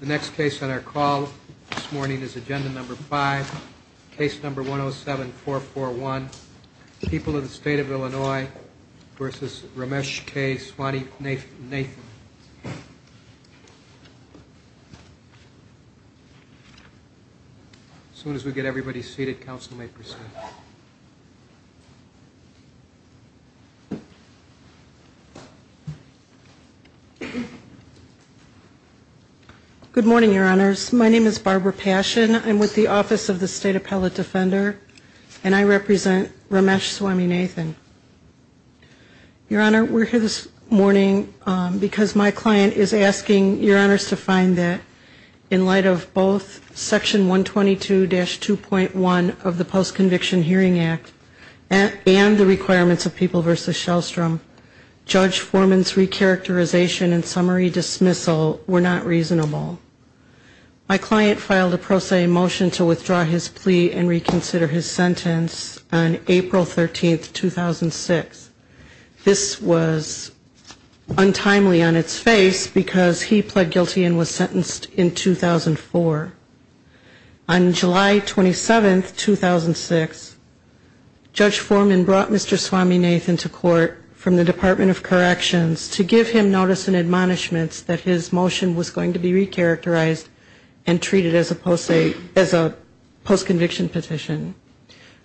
The next case on our call this morning is Agenda No. 5, Case No. 107441, People of the State of Illinois v. Ramesh K. Swamynathan. As soon as we get everybody seated, Council may proceed. Good morning, Your Honors. My name is Barbara Passion. I'm with the Office of the State Appellate Defender, and I represent Ramesh Swamynathan. Your Honor, we're here this morning because my client is asking Your Honors to find that, in light of both Section 122-2.1 of the Post-Conviction Hearing Act and the requirements of People v. Shellstrom, Judge Foreman's recharacterization and summary dismissal were not reasonable. My client filed a pro se motion to withdraw his plea and reconsider his sentence on April 13, 2006. This was untimely on its face because he pled guilty and was sentenced in 2004. On July 27, 2006, Judge Foreman brought Mr. Swamynathan to court from the Department of Corrections to give him notice and admonishments that his motion was going to be recharacterized and treated as a post-conviction petition.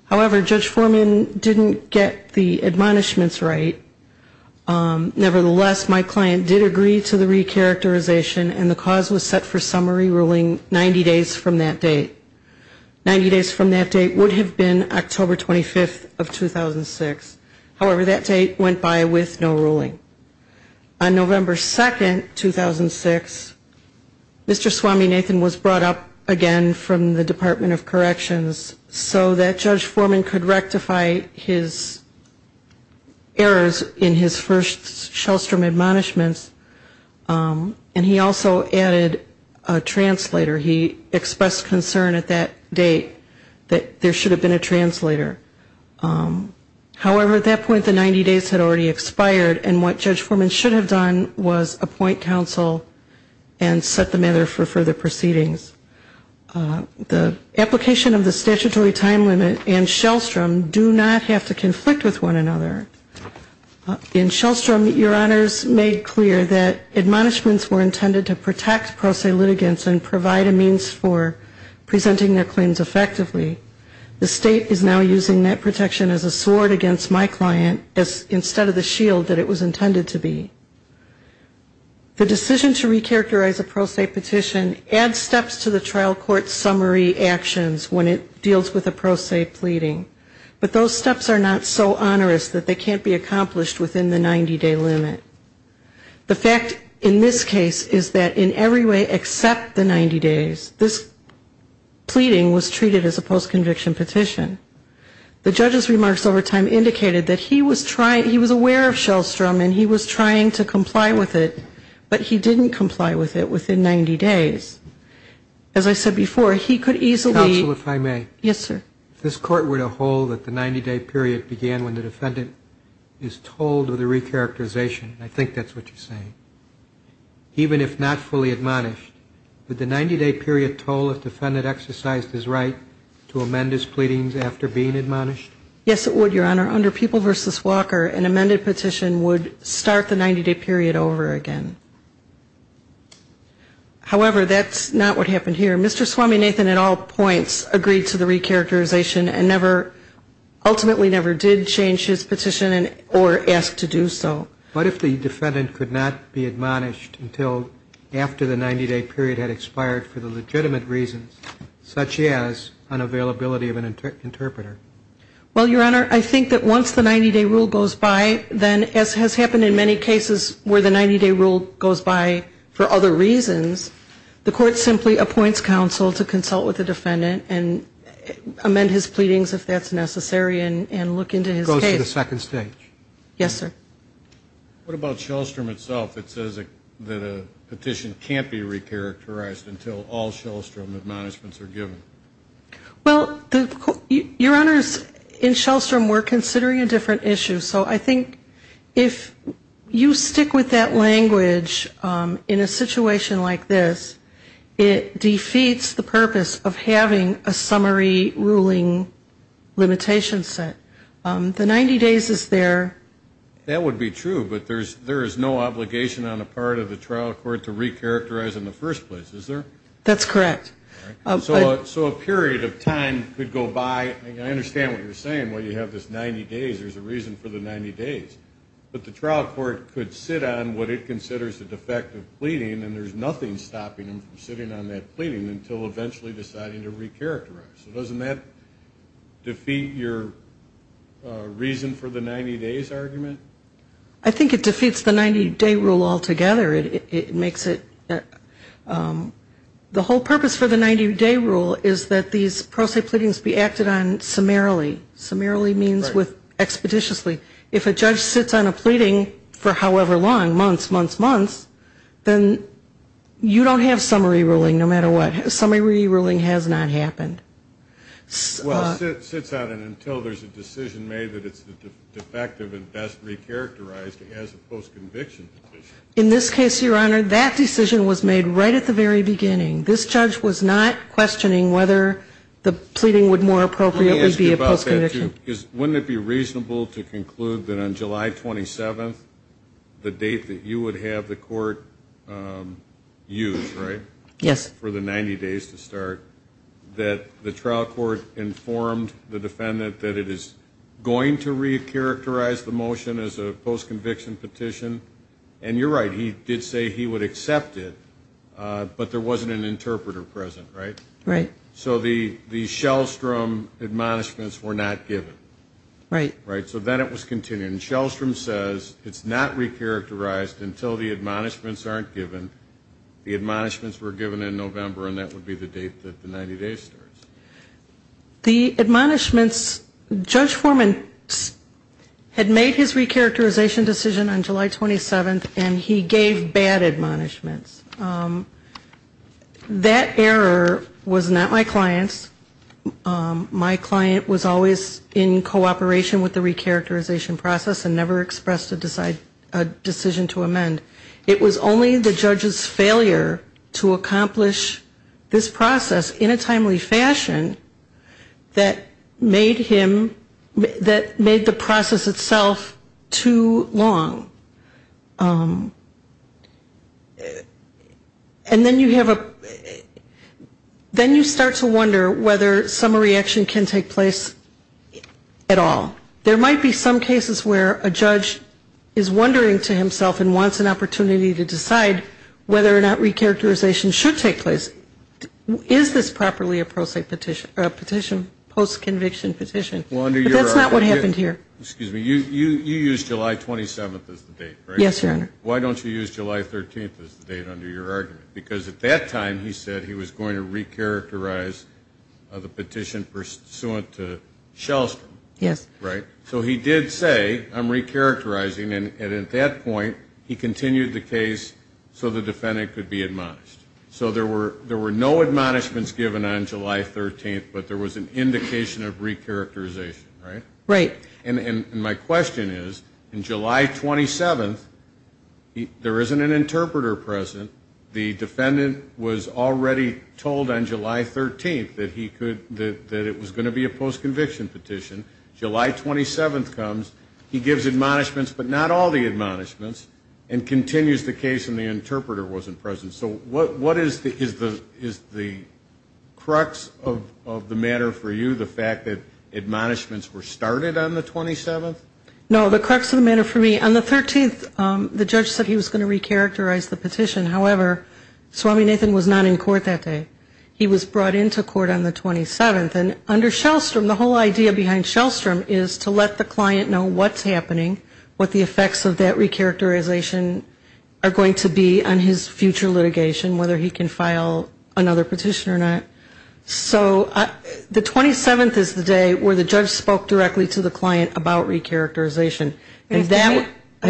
However, Judge Foreman didn't get the admonishments right. Nevertheless, my client did agree to the recharacterization, and the cause was set for summary ruling 90 days from that date. Ninety days from that date would have been October 25, 2006. However, that date went by with no ruling. On November 2, 2006, Mr. Swamynathan was brought up again from the Department of Corrections so that Judge Foreman could rectify his errors in his first Shellstrom admonishments, and he also added a translator. He expressed concern at that date that there should have been a translator. However, at that point, the 90 days had already expired, and what Judge Foreman should have done was appoint counsel and set the matter for further proceedings. The application of the statutory time limit and Shellstrom do not have to conflict with one another. They have to protect pro se litigants and provide a means for presenting their claims effectively. The State is now using that protection as a sword against my client instead of the shield that it was intended to be. The decision to recharacterize a pro se petition adds steps to the trial court's summary actions when it deals with a pro se pleading, but those steps are not so onerous that they can't be accomplished within the 90-day limit. The fact in this case is that in every way except the 90 days, this pleading was treated as a post-conviction petition. The judge's remarks over time indicated that he was aware of Shellstrom and he was trying to comply with it, but he didn't comply with it within 90 days. As I said before, he could easily... Counsel, if I may. Yes, sir. If this Court were to hold that the 90-day period began when the defendant is told of the recharacterization, I think that's what you're saying, even if not fully admonished, would the 90-day period toll if defendant exercised his right to amend his pleadings after being admonished? Yes, it would, Your Honor. Under People v. Walker, an amended petition would start the 90-day period over again. However, that's not what happened here. Mr. Swaminathan at all points agreed to the recharacterization and never, ultimately never did change his petition or ask to do so. What if the defendant could not be admonished until after the 90-day period had expired for the legitimate reasons, such as unavailability of an interpreter? Well, Your Honor, I think that once the 90-day rule goes by, then, as has happened in many cases where the 90-day rule goes by for other reasons, the Court simply appoints counsel to consult with the defendant and amend his pleadings if that's necessary and look into his case. Yes, sir. What about Shellstrom itself that says that a petition can't be recharacterized until all Shellstrom admonishments are given? Well, Your Honors, in Shellstrom we're considering a different issue. So I think if you stick with that language in a situation like this, it defeats the purpose of having a summary ruling limitation set. 90 days is there. That would be true, but there is no obligation on the part of the trial court to recharacterize in the first place, is there? That's correct. So a period of time could go by. I understand what you're saying, where you have this 90 days, there's a reason for the 90 days. But the trial court could sit on what it considers a defective pleading, and there's nothing stopping them from sitting on that pleading until eventually deciding to recharacterize. So doesn't that defeat your reason for the 90 days argument? I think it defeats the 90-day rule altogether. The whole purpose for the 90-day rule is that these pro se pleadings be acted on summarily. Summarily means expeditiously. If a judge sits on a pleading for however long, months, months, months, then you don't have summary ruling no matter what. Summary ruling has not happened. Well, it sits on it until there's a decision made that it's defective and best recharacterized as a post-conviction petition. In this case, Your Honor, that decision was made right at the very beginning. This judge was not questioning whether the pleading would more appropriately be a post-conviction. Let me ask you about that, too, because wouldn't it be reasonable to conclude that on July 27th, the date that you would have the court use, right, for the 90 days to start, that the trial court informed the defendant that it is going to recharacterize the motion as a post-conviction petition? And you're right, he did say he would accept it, but there wasn't an interpreter present, right? Right. So the Shellstrom admonishments were not given. Right. Right. So then it was continued, and Shellstrom says it's not recharacterized until the admonishments aren't given. The admonishments were given in November, and that would be the date that the 90 days starts. The admonishments, Judge Foreman had made his recharacterization decision on July 27th, and he gave bad admonishments. That error was not my client's. My client was always in cooperation with the recharacterization process and never expressed a decision to amend. It was only the judge's failure to accomplish this process in a timely fashion that made him, that made the process itself too long. And then you have a, then you start to wonder whether some reaction can take place at all. There might be some cases where a judge is wondering to himself and wants an opportunity to decide whether or not recharacterization should take place. Is this properly a post-conviction petition? But that's not what happened here. You used July 27th as the date, right? Yes, Your Honor. Why don't you use July 13th as the date under your argument? Because at that time he said he was going to recharacterize the petition pursuant to Shellstrom. Yes. Right. So he did say, I'm recharacterizing, and at that point he continued the case so the defendant could be admonished. So there were no admonishments given on July 13th, but there was an indication of recharacterization, right? Right. And my question is, in July 27th, there isn't an interpreter present. The defendant was already told on July 13th that he could, that it was going to be a post-conviction petition. July 27th comes, he gives admonishments, but not all the admonishments, and continues the case and the interpreter wasn't present. So what is the, is the crux of the matter for you, the fact that admonishments were started on the 27th? No, the crux of the matter for me, on the 13th, the judge said he was going to recharacterize the petition. However, Swami Nathan was not in court that day. He was brought into court on the 27th, and under Shellstrom, the whole idea behind Shellstrom is to let the client know what's happening, what the effects of that recharacterization are going to be on his future litigation. Whether he can file another petition or not. So the 27th is the day where the judge spoke directly to the client about recharacterization. But if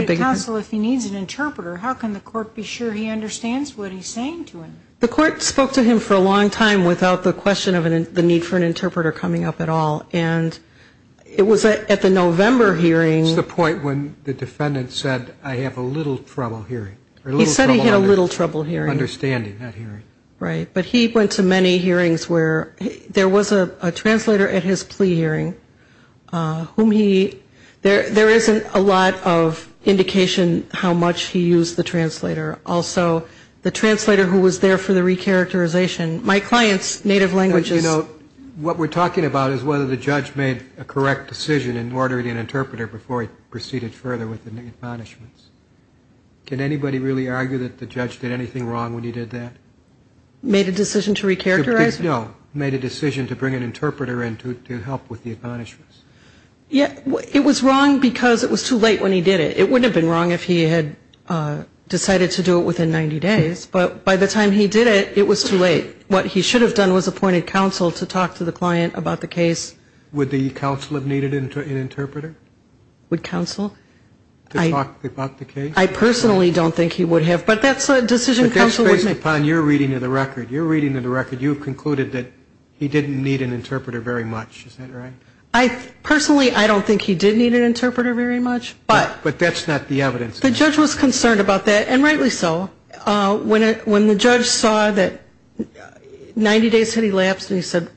the counsel, if he needs an interpreter, how can the court be sure he understands what he's saying to him? The court spoke to him for a long time without the question of the need for an interpreter coming up at all. And it was at the November hearing. That's the point when the defendant said, I have a little trouble hearing. He said he had a little trouble hearing. Understanding that hearing. Right. But he went to many hearings where there was a translator at his plea hearing whom he, there isn't a lot of indication how much he used the translator. Also, the translator who was there for the recharacterization. My client's native language is... What we're talking about is whether the judge made a correct decision in ordering an interpreter before he proceeded further with the admonishments. Can anybody really argue that the judge did anything wrong when he did that? Made a decision to recharacterize? No. Made a decision to bring an interpreter in to help with the admonishments. It was wrong because it was too late when he did it. It wouldn't have been wrong if he had decided to do it within 90 days. But by the time he did it, it was too late. What he should have done was appointed counsel to talk to the client about the case. Would the counsel have needed an interpreter? Would counsel? To talk about the case? I personally don't think he would have, but that's a decision counsel would make. But that's based upon your reading of the record. Your reading of the record, you have concluded that he didn't need an interpreter very much. Is that right? Personally, I don't think he did need an interpreter very much. But that's not the evidence. The judge was concerned about that, and rightly so. When the judge saw that 90 days had elapsed and he said,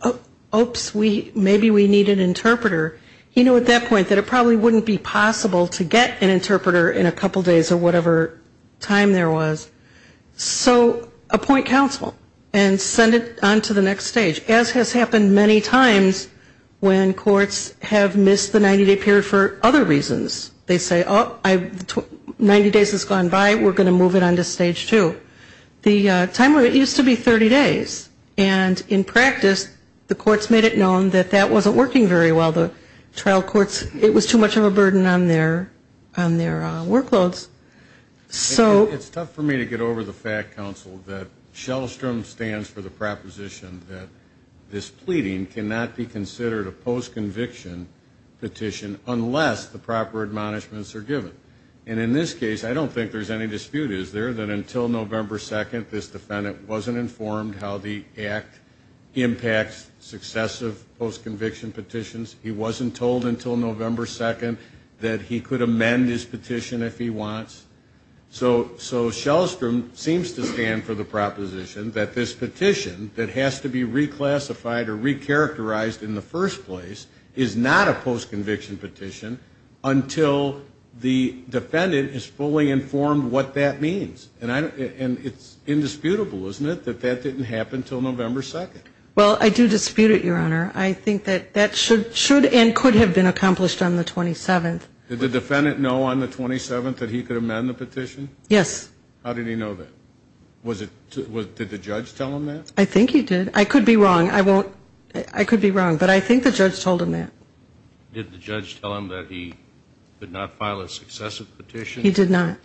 oops, maybe we need an interpreter, he knew at that point that it probably wouldn't be possible to get an interpreter in a couple days or whatever time there was. So appoint counsel and send it on to the next stage. As has happened many times when courts have missed the 90-day period for other reasons. They say, oh, 90 days has gone by, we're going to move it on to stage two. The time limit used to be 30 days. And in practice, the courts made it known that that wasn't working very well. The trial courts, it was too much of a burden on their workloads. It's tough for me to get over the fact, counsel, that Shellstrom stands for the proposition that this pleading cannot be considered a post-conviction petition unless the proper admonishments are given. And in this case, I don't think there's any dispute, is there, that until November 2nd, this defendant wasn't informed how the act impacts successive post-conviction petitions. He wasn't told until November 2nd that he could amend his petition if he wants. So Shellstrom seems to stand for the proposition that this petition that has to be reclassified or recharacterized in the first place is not a post-conviction petition until the defendant is fully informed what that means. And it's indisputable, isn't it, that that didn't happen until November 2nd. Well, I do dispute it, Your Honor. I think that that should and could have been accomplished on the 27th. Did the defendant know on the 27th that he could amend the petition? Yes. How did he know that? Did the judge tell him that? I think he did. I could be wrong, but I think the judge told him that. Did the judge tell him that he did not file a successive petition? He did not.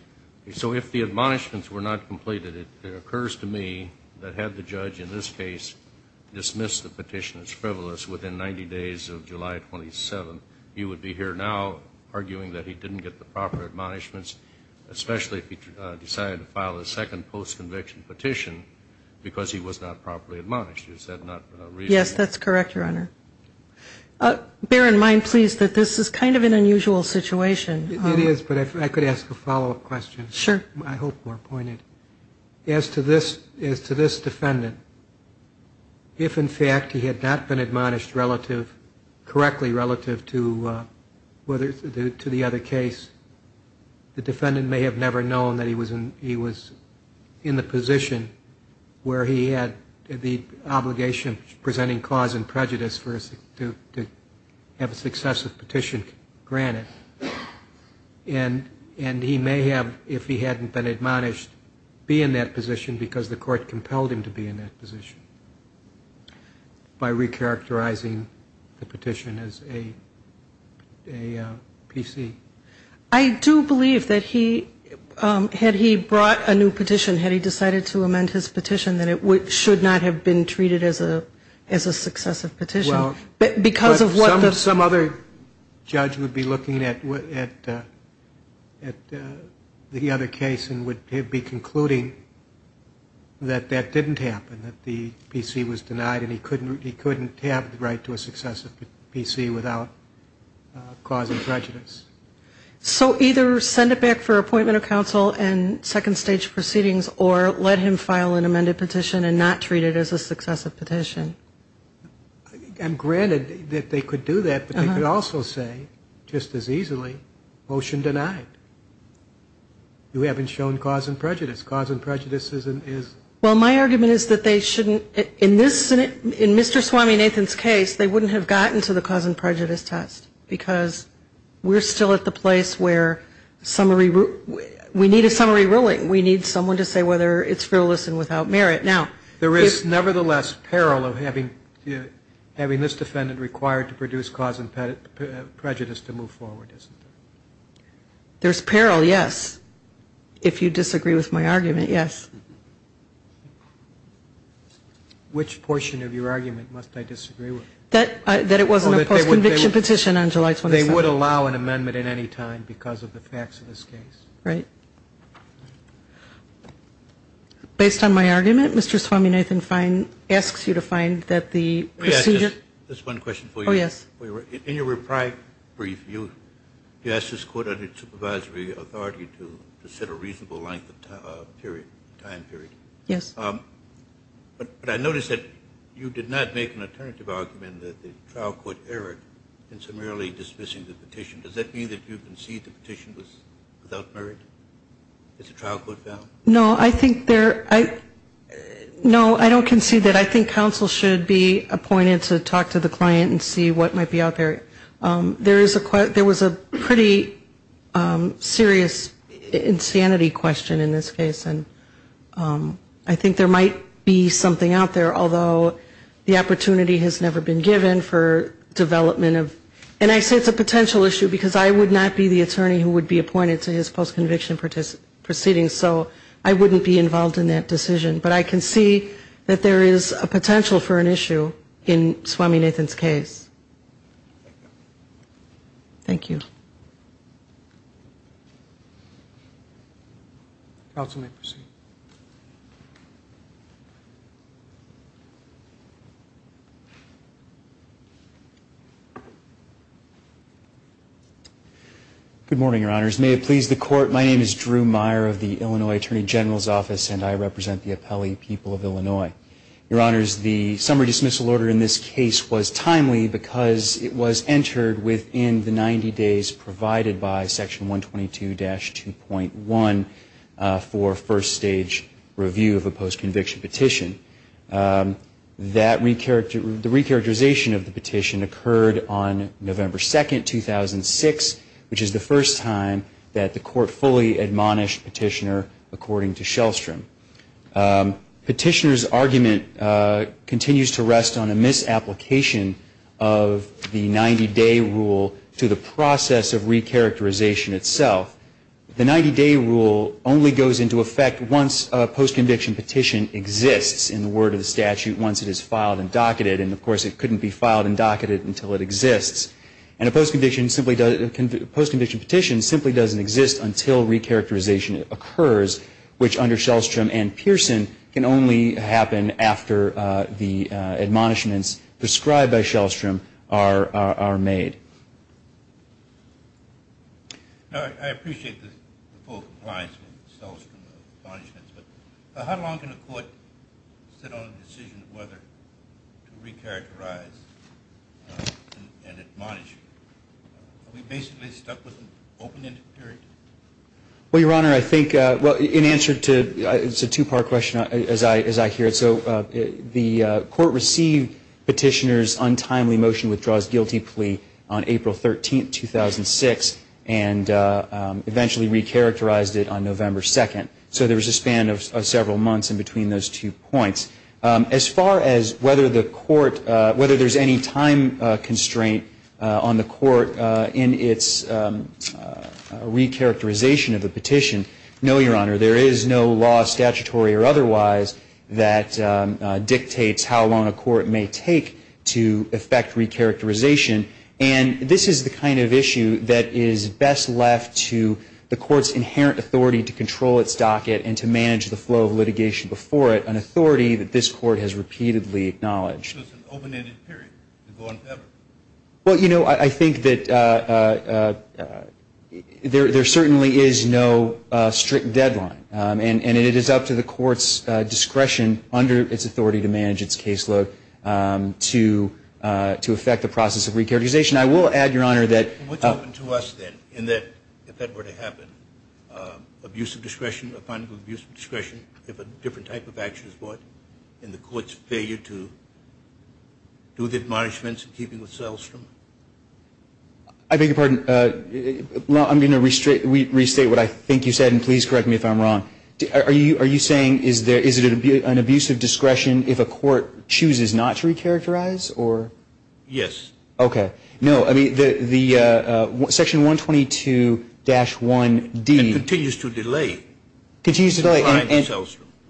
So if the admonishments were not completed, it occurs to me that had the judge in this case dismissed the petition as frivolous within 90 days of July 27th, he would be here now arguing that he didn't get the proper admonishments, especially if he decided to file a second post-conviction petition because he was not properly admonished. Is that not reasonable? Yes, that's correct, Your Honor. Bear in mind, please, that this is kind of an unusual situation. It is, but if I could ask a follow-up question. Sure. I hope we're pointed. As to this defendant, if in fact he had not been admonished correctly relative to the other case, the defendant may have never known that he was in the position where he had the obligation of presenting cause and prejudice to have a successive petition granted. And he may have, if he hadn't been admonished, be in that position because the court compelled him to be in that position by recharacterizing the petition as a PC. I do believe that he, had he brought a new petition, had he decided to amend his petition, that it should not have been treated as a successive petition. Well, some other judge would be looking at the other case and would be concluding that that didn't happen, that the PC was denied and he couldn't have the right to a successive PC without causing prejudice. So either send it back for appointment of counsel and second stage proceedings or let him file an amended petition and not treat it as a successive petition. And granted that they could do that, but they could also say just as easily, motion denied. You haven't shown cause and prejudice. Cause and prejudice is. Well, my argument is that they shouldn't, in this, in Mr. Swaminathan's case, they wouldn't have gotten to the cause and prejudice right now. There is nevertheless peril of having this defendant required to produce cause and prejudice to move forward, isn't there? There's peril, yes. If you disagree with my argument, yes. Which portion of your argument must I disagree with? That it wasn't a post-conviction petition on July 22nd. They would allow an amendment at any time because of the facts of this case. Right. Based on my argument, Mr. Swaminathan asks you to find that the procedure. Just one question for you. Yes. In your reply brief, you asked this court under its supervisory authority to set a reasonable length of time period. Yes. But I noticed that you did not make an alternative argument that the trial court erred in summarily dismissing the petition. Does that mean that you concede the petition was without merit? No, I don't concede that. I think counsel should be appointed to talk to the client and see what might be out there. There was a pretty serious insanity question in this case, and I think there might be something out there, although the opportunity has never been given for development. And I say it's a potential issue because I would not be the attorney who would be appointed to his post-conviction proceeding, so I wouldn't be involved in that decision. But I can see that there is a potential for an issue in Swaminathan's case. Thank you. Counsel may proceed. Good morning, Your Honors. May it please the Court, my name is Drew Meyer of the Illinois Attorney General's Office, and I represent the Appellee People of Illinois. Your Honors, the summary dismissal order in this case was timely because it was entered within the 90 days provided by Section 122-2.1 for first-stage review of a post-conviction petition. The recharacterization of the petition occurred on November 2, 2006, which is the first time that the Court fully admonished Petitioner according to Shellstrom. Petitioner's argument continues to rest on a misapplication of the 90-day rule to the process of recharacterization itself. The 90-day rule only goes into effect once a post-conviction petition exists. And a post-conviction petition simply doesn't exist until recharacterization occurs, which under Shellstrom and Pearson can only happen after the admonishments prescribed by Shellstrom are made. I appreciate the full compliance with Shellstrom's admonishments, but how long can a court sit on a decision of whether to recharacterize an admonishment? Are we basically stuck with an open-ended period? Well, Your Honor, I think in answer to a two-part question as I hear it, the Court received Petitioner's untimely motion withdraws guilty plea on April 13, 2006, and eventually recharacterized it on November 2. So there was a span of several months in between those two points. As far as whether there's any time constraint on the Court in its recharacterization of the petition, no, Your Honor, there is no law, statutory or otherwise, that dictates how long a court may take to effect recharacterization. And this is the kind of issue that is best left to the Court's inherent authority to control its docket and to manage the flow of litigation before it, an authority that this Court has repeatedly acknowledged. Well, you know, I think that there certainly is no strict deadline, and it is up to the Court's discretion under its authority to manage its caseload to effect the process of recharacterization. I will add, Your Honor, that... What's open to us, then, in that if that were to happen, abuse of discretion upon abuse of discretion, if a different type of action is brought, and the Court's failure to do the admonishments in keeping with Sellstrom? I beg your pardon. Well, I'm going to restate what I think you said, and please correct me if I'm wrong. Are you saying is it an abuse of discretion if a court chooses not to recharacterize, or...? Yes. Okay. No, I mean, the Section 122-1D... It continues to delay. It continues to delay.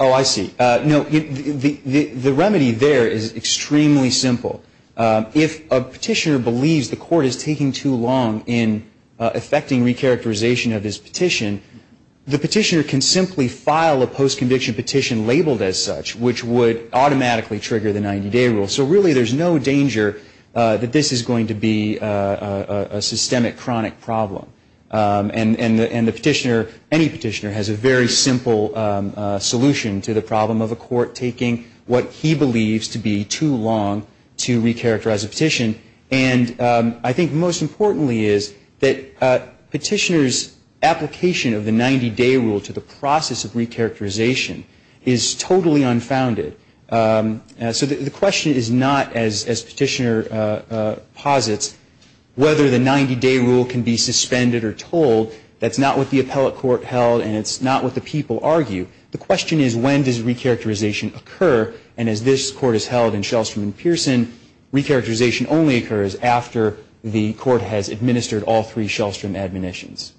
Oh, I see. No, the remedy there is extremely simple. If a petitioner believes the Court is taking too long in effecting recharacterization of his petition, the petitioner can simply file a post-conviction petition labeled as such, which would automatically trigger the 90-day rule. So, really, there's no danger that this is going to be a systemic, chronic problem. And the petitioner, any petitioner, has a very simple solution to the problem of a court taking what he believes to be too long to recharacterize a petition. And I think most importantly is that petitioner's application of the 90-day rule to the process of recharacterization is totally unfounded. So the question is not, as Petitioner posits, whether the 90-day rule can be suspended or told. That's not what the appellate court held, and it's not what the people argue. The question is, when does recharacterization occur? And as this Court has held in Shellstrom and Pearson, recharacterization only occurs after the Court has administered all three Shellstrom admonitions.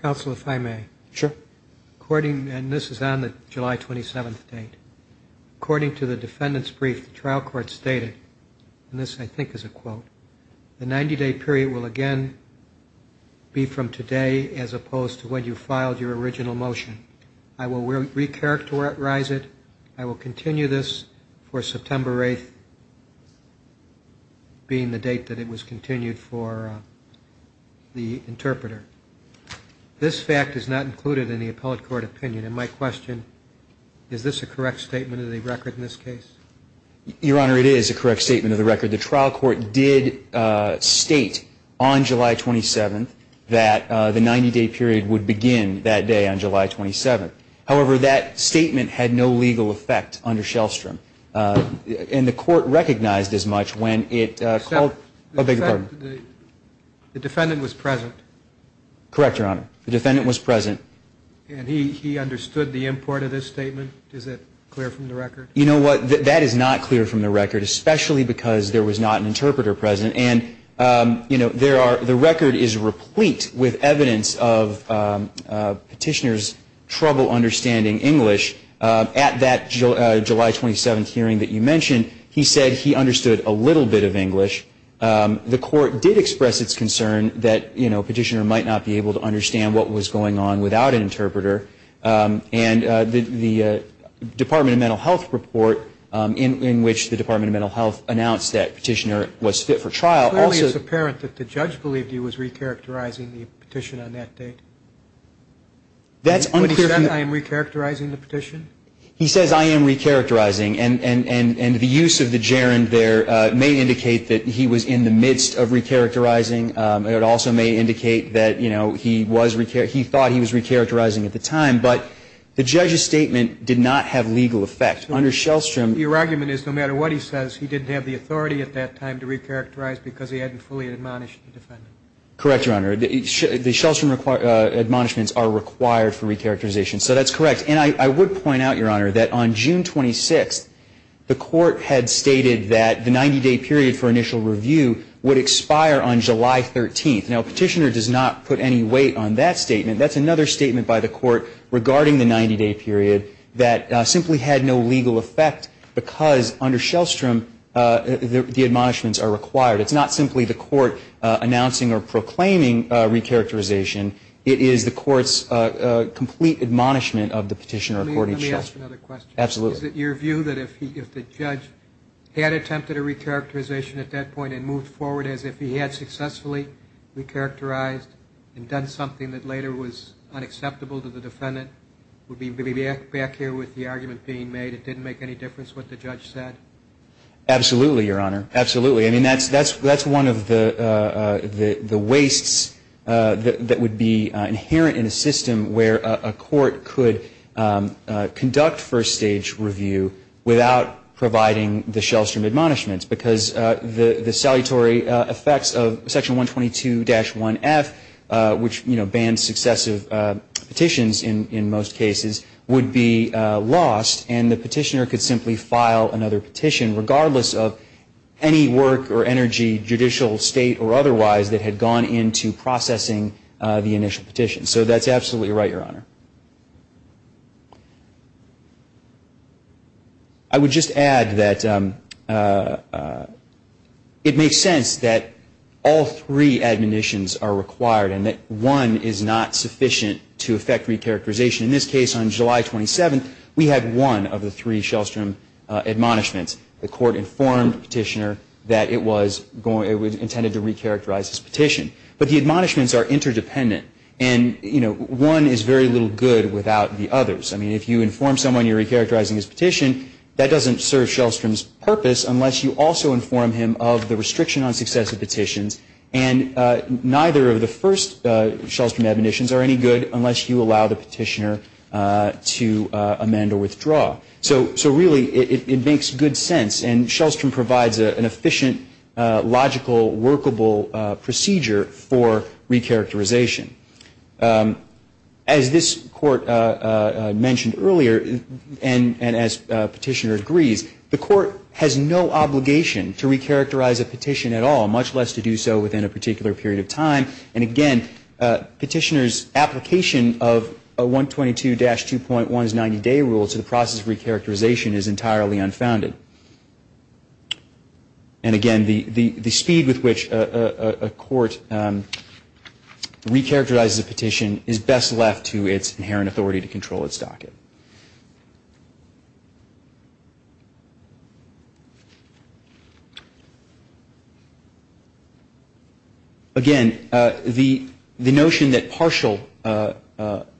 Counsel, if I may. Sure. According, and this is on the July 27th date, according to the defendant's brief, the trial court stated, and this, I think, is a quote, the 90-day period will again be from today as opposed to when you filed your original motion. I will recharacterize it. I will continue this for September 8th being the date that it was continued for the interpreter. This fact is not included in the appellate court opinion. And my question, is this a correct statement of the record in this case? Your Honor, it is a correct statement of the record. The trial court did state on July 27th that the 90-day period would begin that day on July 27th. However, that statement had no legal effect under Shellstrom. And the Court recognized as much when it called the defendant was present. Correct, Your Honor. The defendant was present. And he understood the import of this statement? Is that clear from the record? You know what? That is not clear from the record, especially because there was not an interpreter present. And, you know, the record is replete with evidence of Petitioner's trouble understanding English. At that July 27th hearing that you mentioned, he said he understood a little bit of English. The Court did express its concern that, you know, Petitioner might not be able to understand what was going on without an interpreter. And the Department of Mental Health report in which the Department of Mental Health announced that Petitioner was fit for trial also- Clearly it's apparent that the judge believed he was recharacterizing the petition on that date. That's unclear- He said, I am recharacterizing the petition? He says, I am recharacterizing. And the use of the gerund there may indicate that he was in the midst of recharacterizing. It also may indicate that, you know, he thought he was recharacterizing at the time. But the judge's statement did not have legal effect. Under Shellstrom- Your argument is no matter what he says, he didn't have the authority at that time to recharacterize because he hadn't fully admonished the defendant. Correct, Your Honor. The Shellstrom admonishments are required for recharacterization. So that's correct. And I would point out, Your Honor, that on June 26th, the court had stated that the 90-day period for initial review would expire on July 13th. Now, Petitioner does not put any weight on that statement. That's another statement by the court regarding the 90-day period that simply had no legal effect because under Shellstrom the admonishments are required. It's not simply the court announcing or proclaiming recharacterization. It is the court's complete admonishment of the Petitioner according to Shellstrom. Let me ask another question. Absolutely. Is it your view that if the judge had attempted a recharacterization at that point and moved forward as if he had successfully recharacterized and done something that later was unacceptable to the defendant, would be back here with the argument being made it didn't make any difference what the judge said? Absolutely, Your Honor. Absolutely. I mean, that's one of the wastes that would be inherent in a system where a court could conduct first-stage review without providing the Shellstrom admonishments because the salutary effects of Section 122-1F, which, you know, judicial state or otherwise that had gone into processing the initial petition. So that's absolutely right, Your Honor. I would just add that it makes sense that all three admonitions are required and that one is not sufficient to effect recharacterization. In this case, on July 27th, we had one of the three Shellstrom admonishments. The court informed Petitioner that it was intended to recharacterize his petition. But the admonishments are interdependent, and, you know, one is very little good without the others. I mean, if you inform someone you're recharacterizing his petition, that doesn't serve Shellstrom's purpose unless you also inform him of the restriction on successive petitions. And neither of the first Shellstrom admonitions are any good unless you allow the petitioner to amend or withdraw. So really, it makes good sense, and Shellstrom provides an efficient, logical, workable procedure for recharacterization. As this Court mentioned earlier, and as Petitioner agrees, the Court has no obligation to recharacterize a petition at all, much less to do so within a particular period of time. And again, Petitioner's application of 122-2.1's 90-day rule to the process of recharacterization is entirely unfounded. And again, the speed with which a court recharacterizes a petition is best left to its inherent authority to control its docket. Again, the notion that partial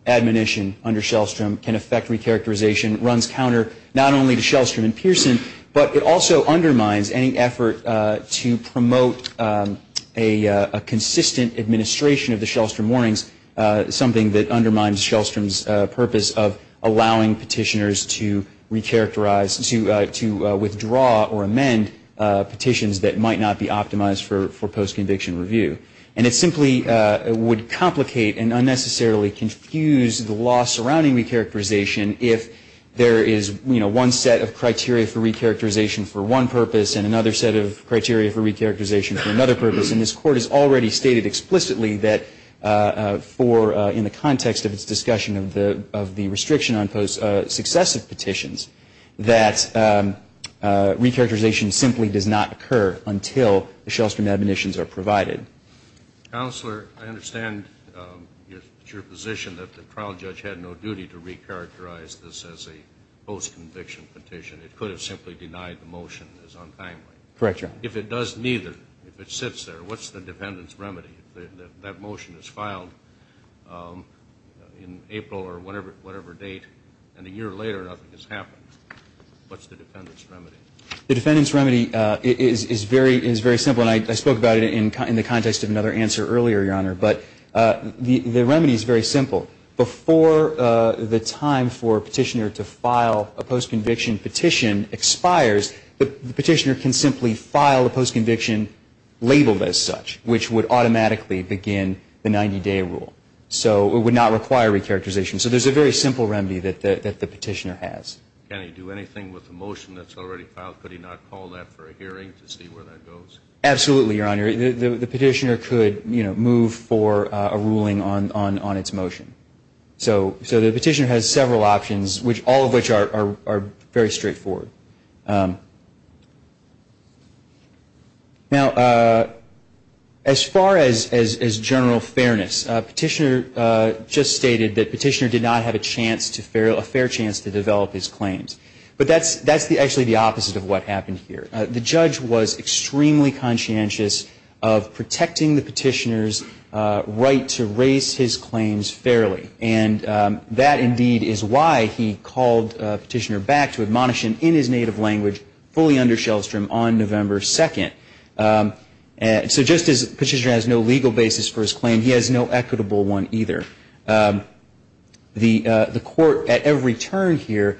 admonition under Shellstrom can affect recharacterization runs counter not only to Shellstrom and Pearson, but it also undermines any effort to promote a consistent administration of the Shellstrom warnings, something that undermines Shellstrom's purpose of allowing petitioners to recharacterize, to withdraw or amend petitions that might not be optimized for post-conviction review. And it simply would complicate and unnecessarily confuse the law surrounding recharacterization if there is, you know, one set of criteria for recharacterization for one purpose and another set of criteria for recharacterization for another purpose. And this Court has already stated explicitly that for, in the context of its discussion of the restriction on successive petitions, that recharacterization simply does not occur until the Shellstrom admonitions are provided. Counselor, I understand your position that the trial judge had no duty to recharacterize this as a post-conviction petition. It could have simply denied the motion as untimely. Correct, Your Honor. If it does neither, if it sits there, what's the defendant's remedy? That motion is filed in April or whatever date, and a year later nothing has happened. What's the defendant's remedy? The defendant's remedy is very simple, and I spoke about it in the context of another answer earlier, Your Honor. But the remedy is very simple. Before the time for a petitioner to file a post-conviction petition expires, the petitioner can simply file a post-conviction labeled as such, which would automatically begin the 90-day rule. So it would not require recharacterization. So there's a very simple remedy that the petitioner has. Can he do anything with the motion that's already filed? Could he not call that for a hearing to see where that goes? Absolutely, Your Honor. The petitioner could move for a ruling on its motion. So the petitioner has several options, all of which are very straightforward. Now, as far as general fairness, Petitioner just stated that Petitioner did not have a fair chance to develop his claims. But that's actually the opposite of what happened here. The judge was extremely conscientious of protecting the petitioner's right to raise his claims fairly, and that indeed is why he called Petitioner back to admonish him in his native language, fully under Shellstrom, on November 2nd. So just as Petitioner has no legal basis for his claim, he has no equitable one either. The court at every turn here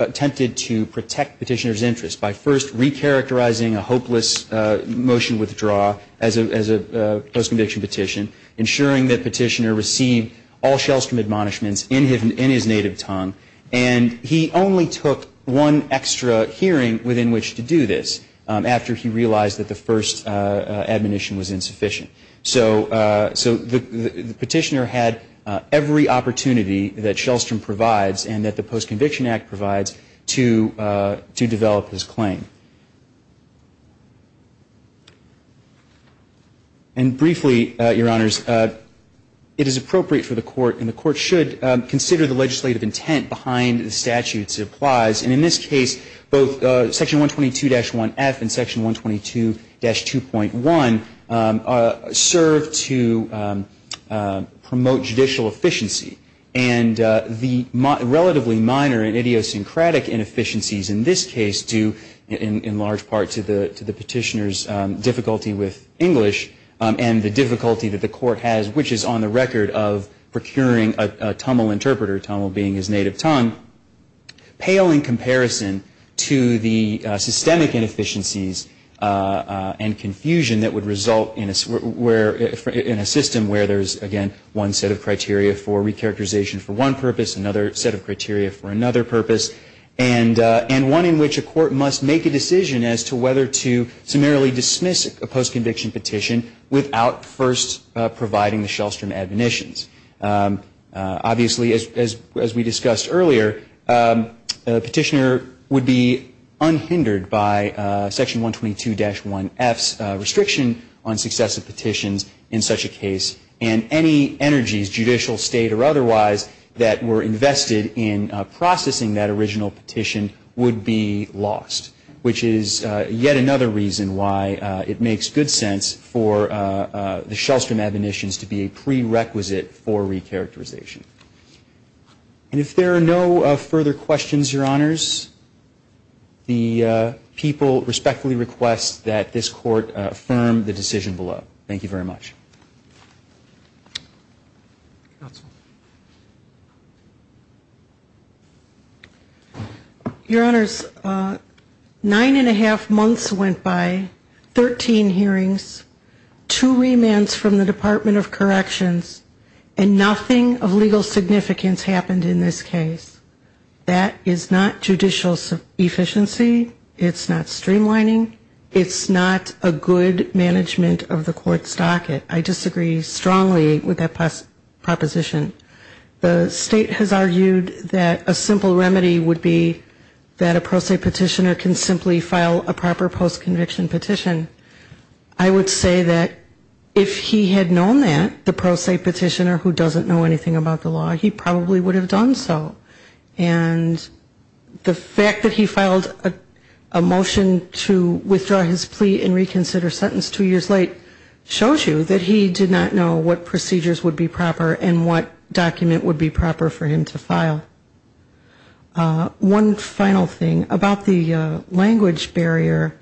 attempted to protect Petitioner's interest by first recharacterizing a hopeless motion withdrawal as a post-conviction petition, ensuring that Petitioner received all Shellstrom admonishments in his native tongue. And he only took one extra hearing within which to do this after he realized that the first admonition was insufficient. So Petitioner had every opportunity that Shellstrom provides and that the Post-Conviction Act provides to develop his claim. And briefly, Your Honors, it is appropriate for the court, and the court should consider the legislative intent behind the statutes it applies. And in this case, both Section 122-1F and Section 122-2.1 serve to promote judicial efficiency. And the relatively minor and idiosyncratic inefficiencies in this case do, in large part, to the petitioner's difficulty with English and the difficulty that the court has, which is on the record of procuring a Tumul interpreter, Tumul being his native tongue, pale in comparison to the systemic inefficiencies and confusion that would result in a system where there's, again, one set of criteria for recharacterization for one purpose, another set of criteria for another purpose, and one in which a court must make a decision as to whether to summarily dismiss a post-conviction petition without first providing the Shellstrom admonitions. Obviously, as we discussed earlier, a petitioner would be unhindered by Section 122-1F's restriction on successive petitions in such a case, and any energies, judicial, state, or otherwise, that were invested in processing that original petition would be lost, which is yet another reason why it makes good sense for the Shellstrom admonitions to be a prerequisite for recharacterization. And if there are no further questions, Your Honors, the people respectfully request that this Court affirm the decision below. Thank you very much. Counsel. Your Honors, nine and a half months went by, 13 hearings, two remands from the Department of Corrections, and nothing of legal significance happened in this case. That is not judicial efficiency. It's not streamlining. It's not a good management of the Court's docket. I disagree strongly with that proposition. The state has argued that a simple remedy would be that a pro se petitioner can simply file a proper post-conviction petition. I would say that if he had known that, the pro se petitioner who doesn't know anything about the law, he probably would have done so. And the fact that he filed a motion to withdraw his plea and reconsider sentence two years late shows you that he did not know what procedures would be proper and what document would be proper for him to file. One final thing about the language barrier,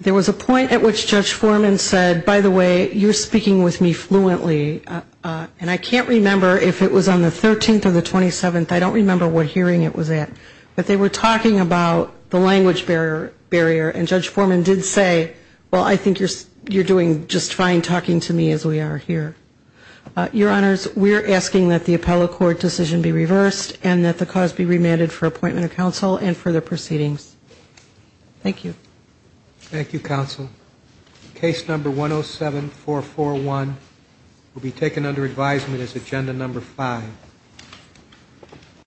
there was a point at which Judge Foreman said, by the way, you're speaking with me fluently, and I can't remember if it was on the 13th or the 27th. I don't remember what hearing it was at. But they were talking about the language barrier, and Judge Foreman did say, well, I think you're doing just fine talking to me as we are here. Your Honors, we're asking that the appellate court decision be reversed and that the cause be remanded for appointment of counsel and further proceedings. Thank you. Thank you, counsel. Case number 107441 will be taken under advisement as agenda number five.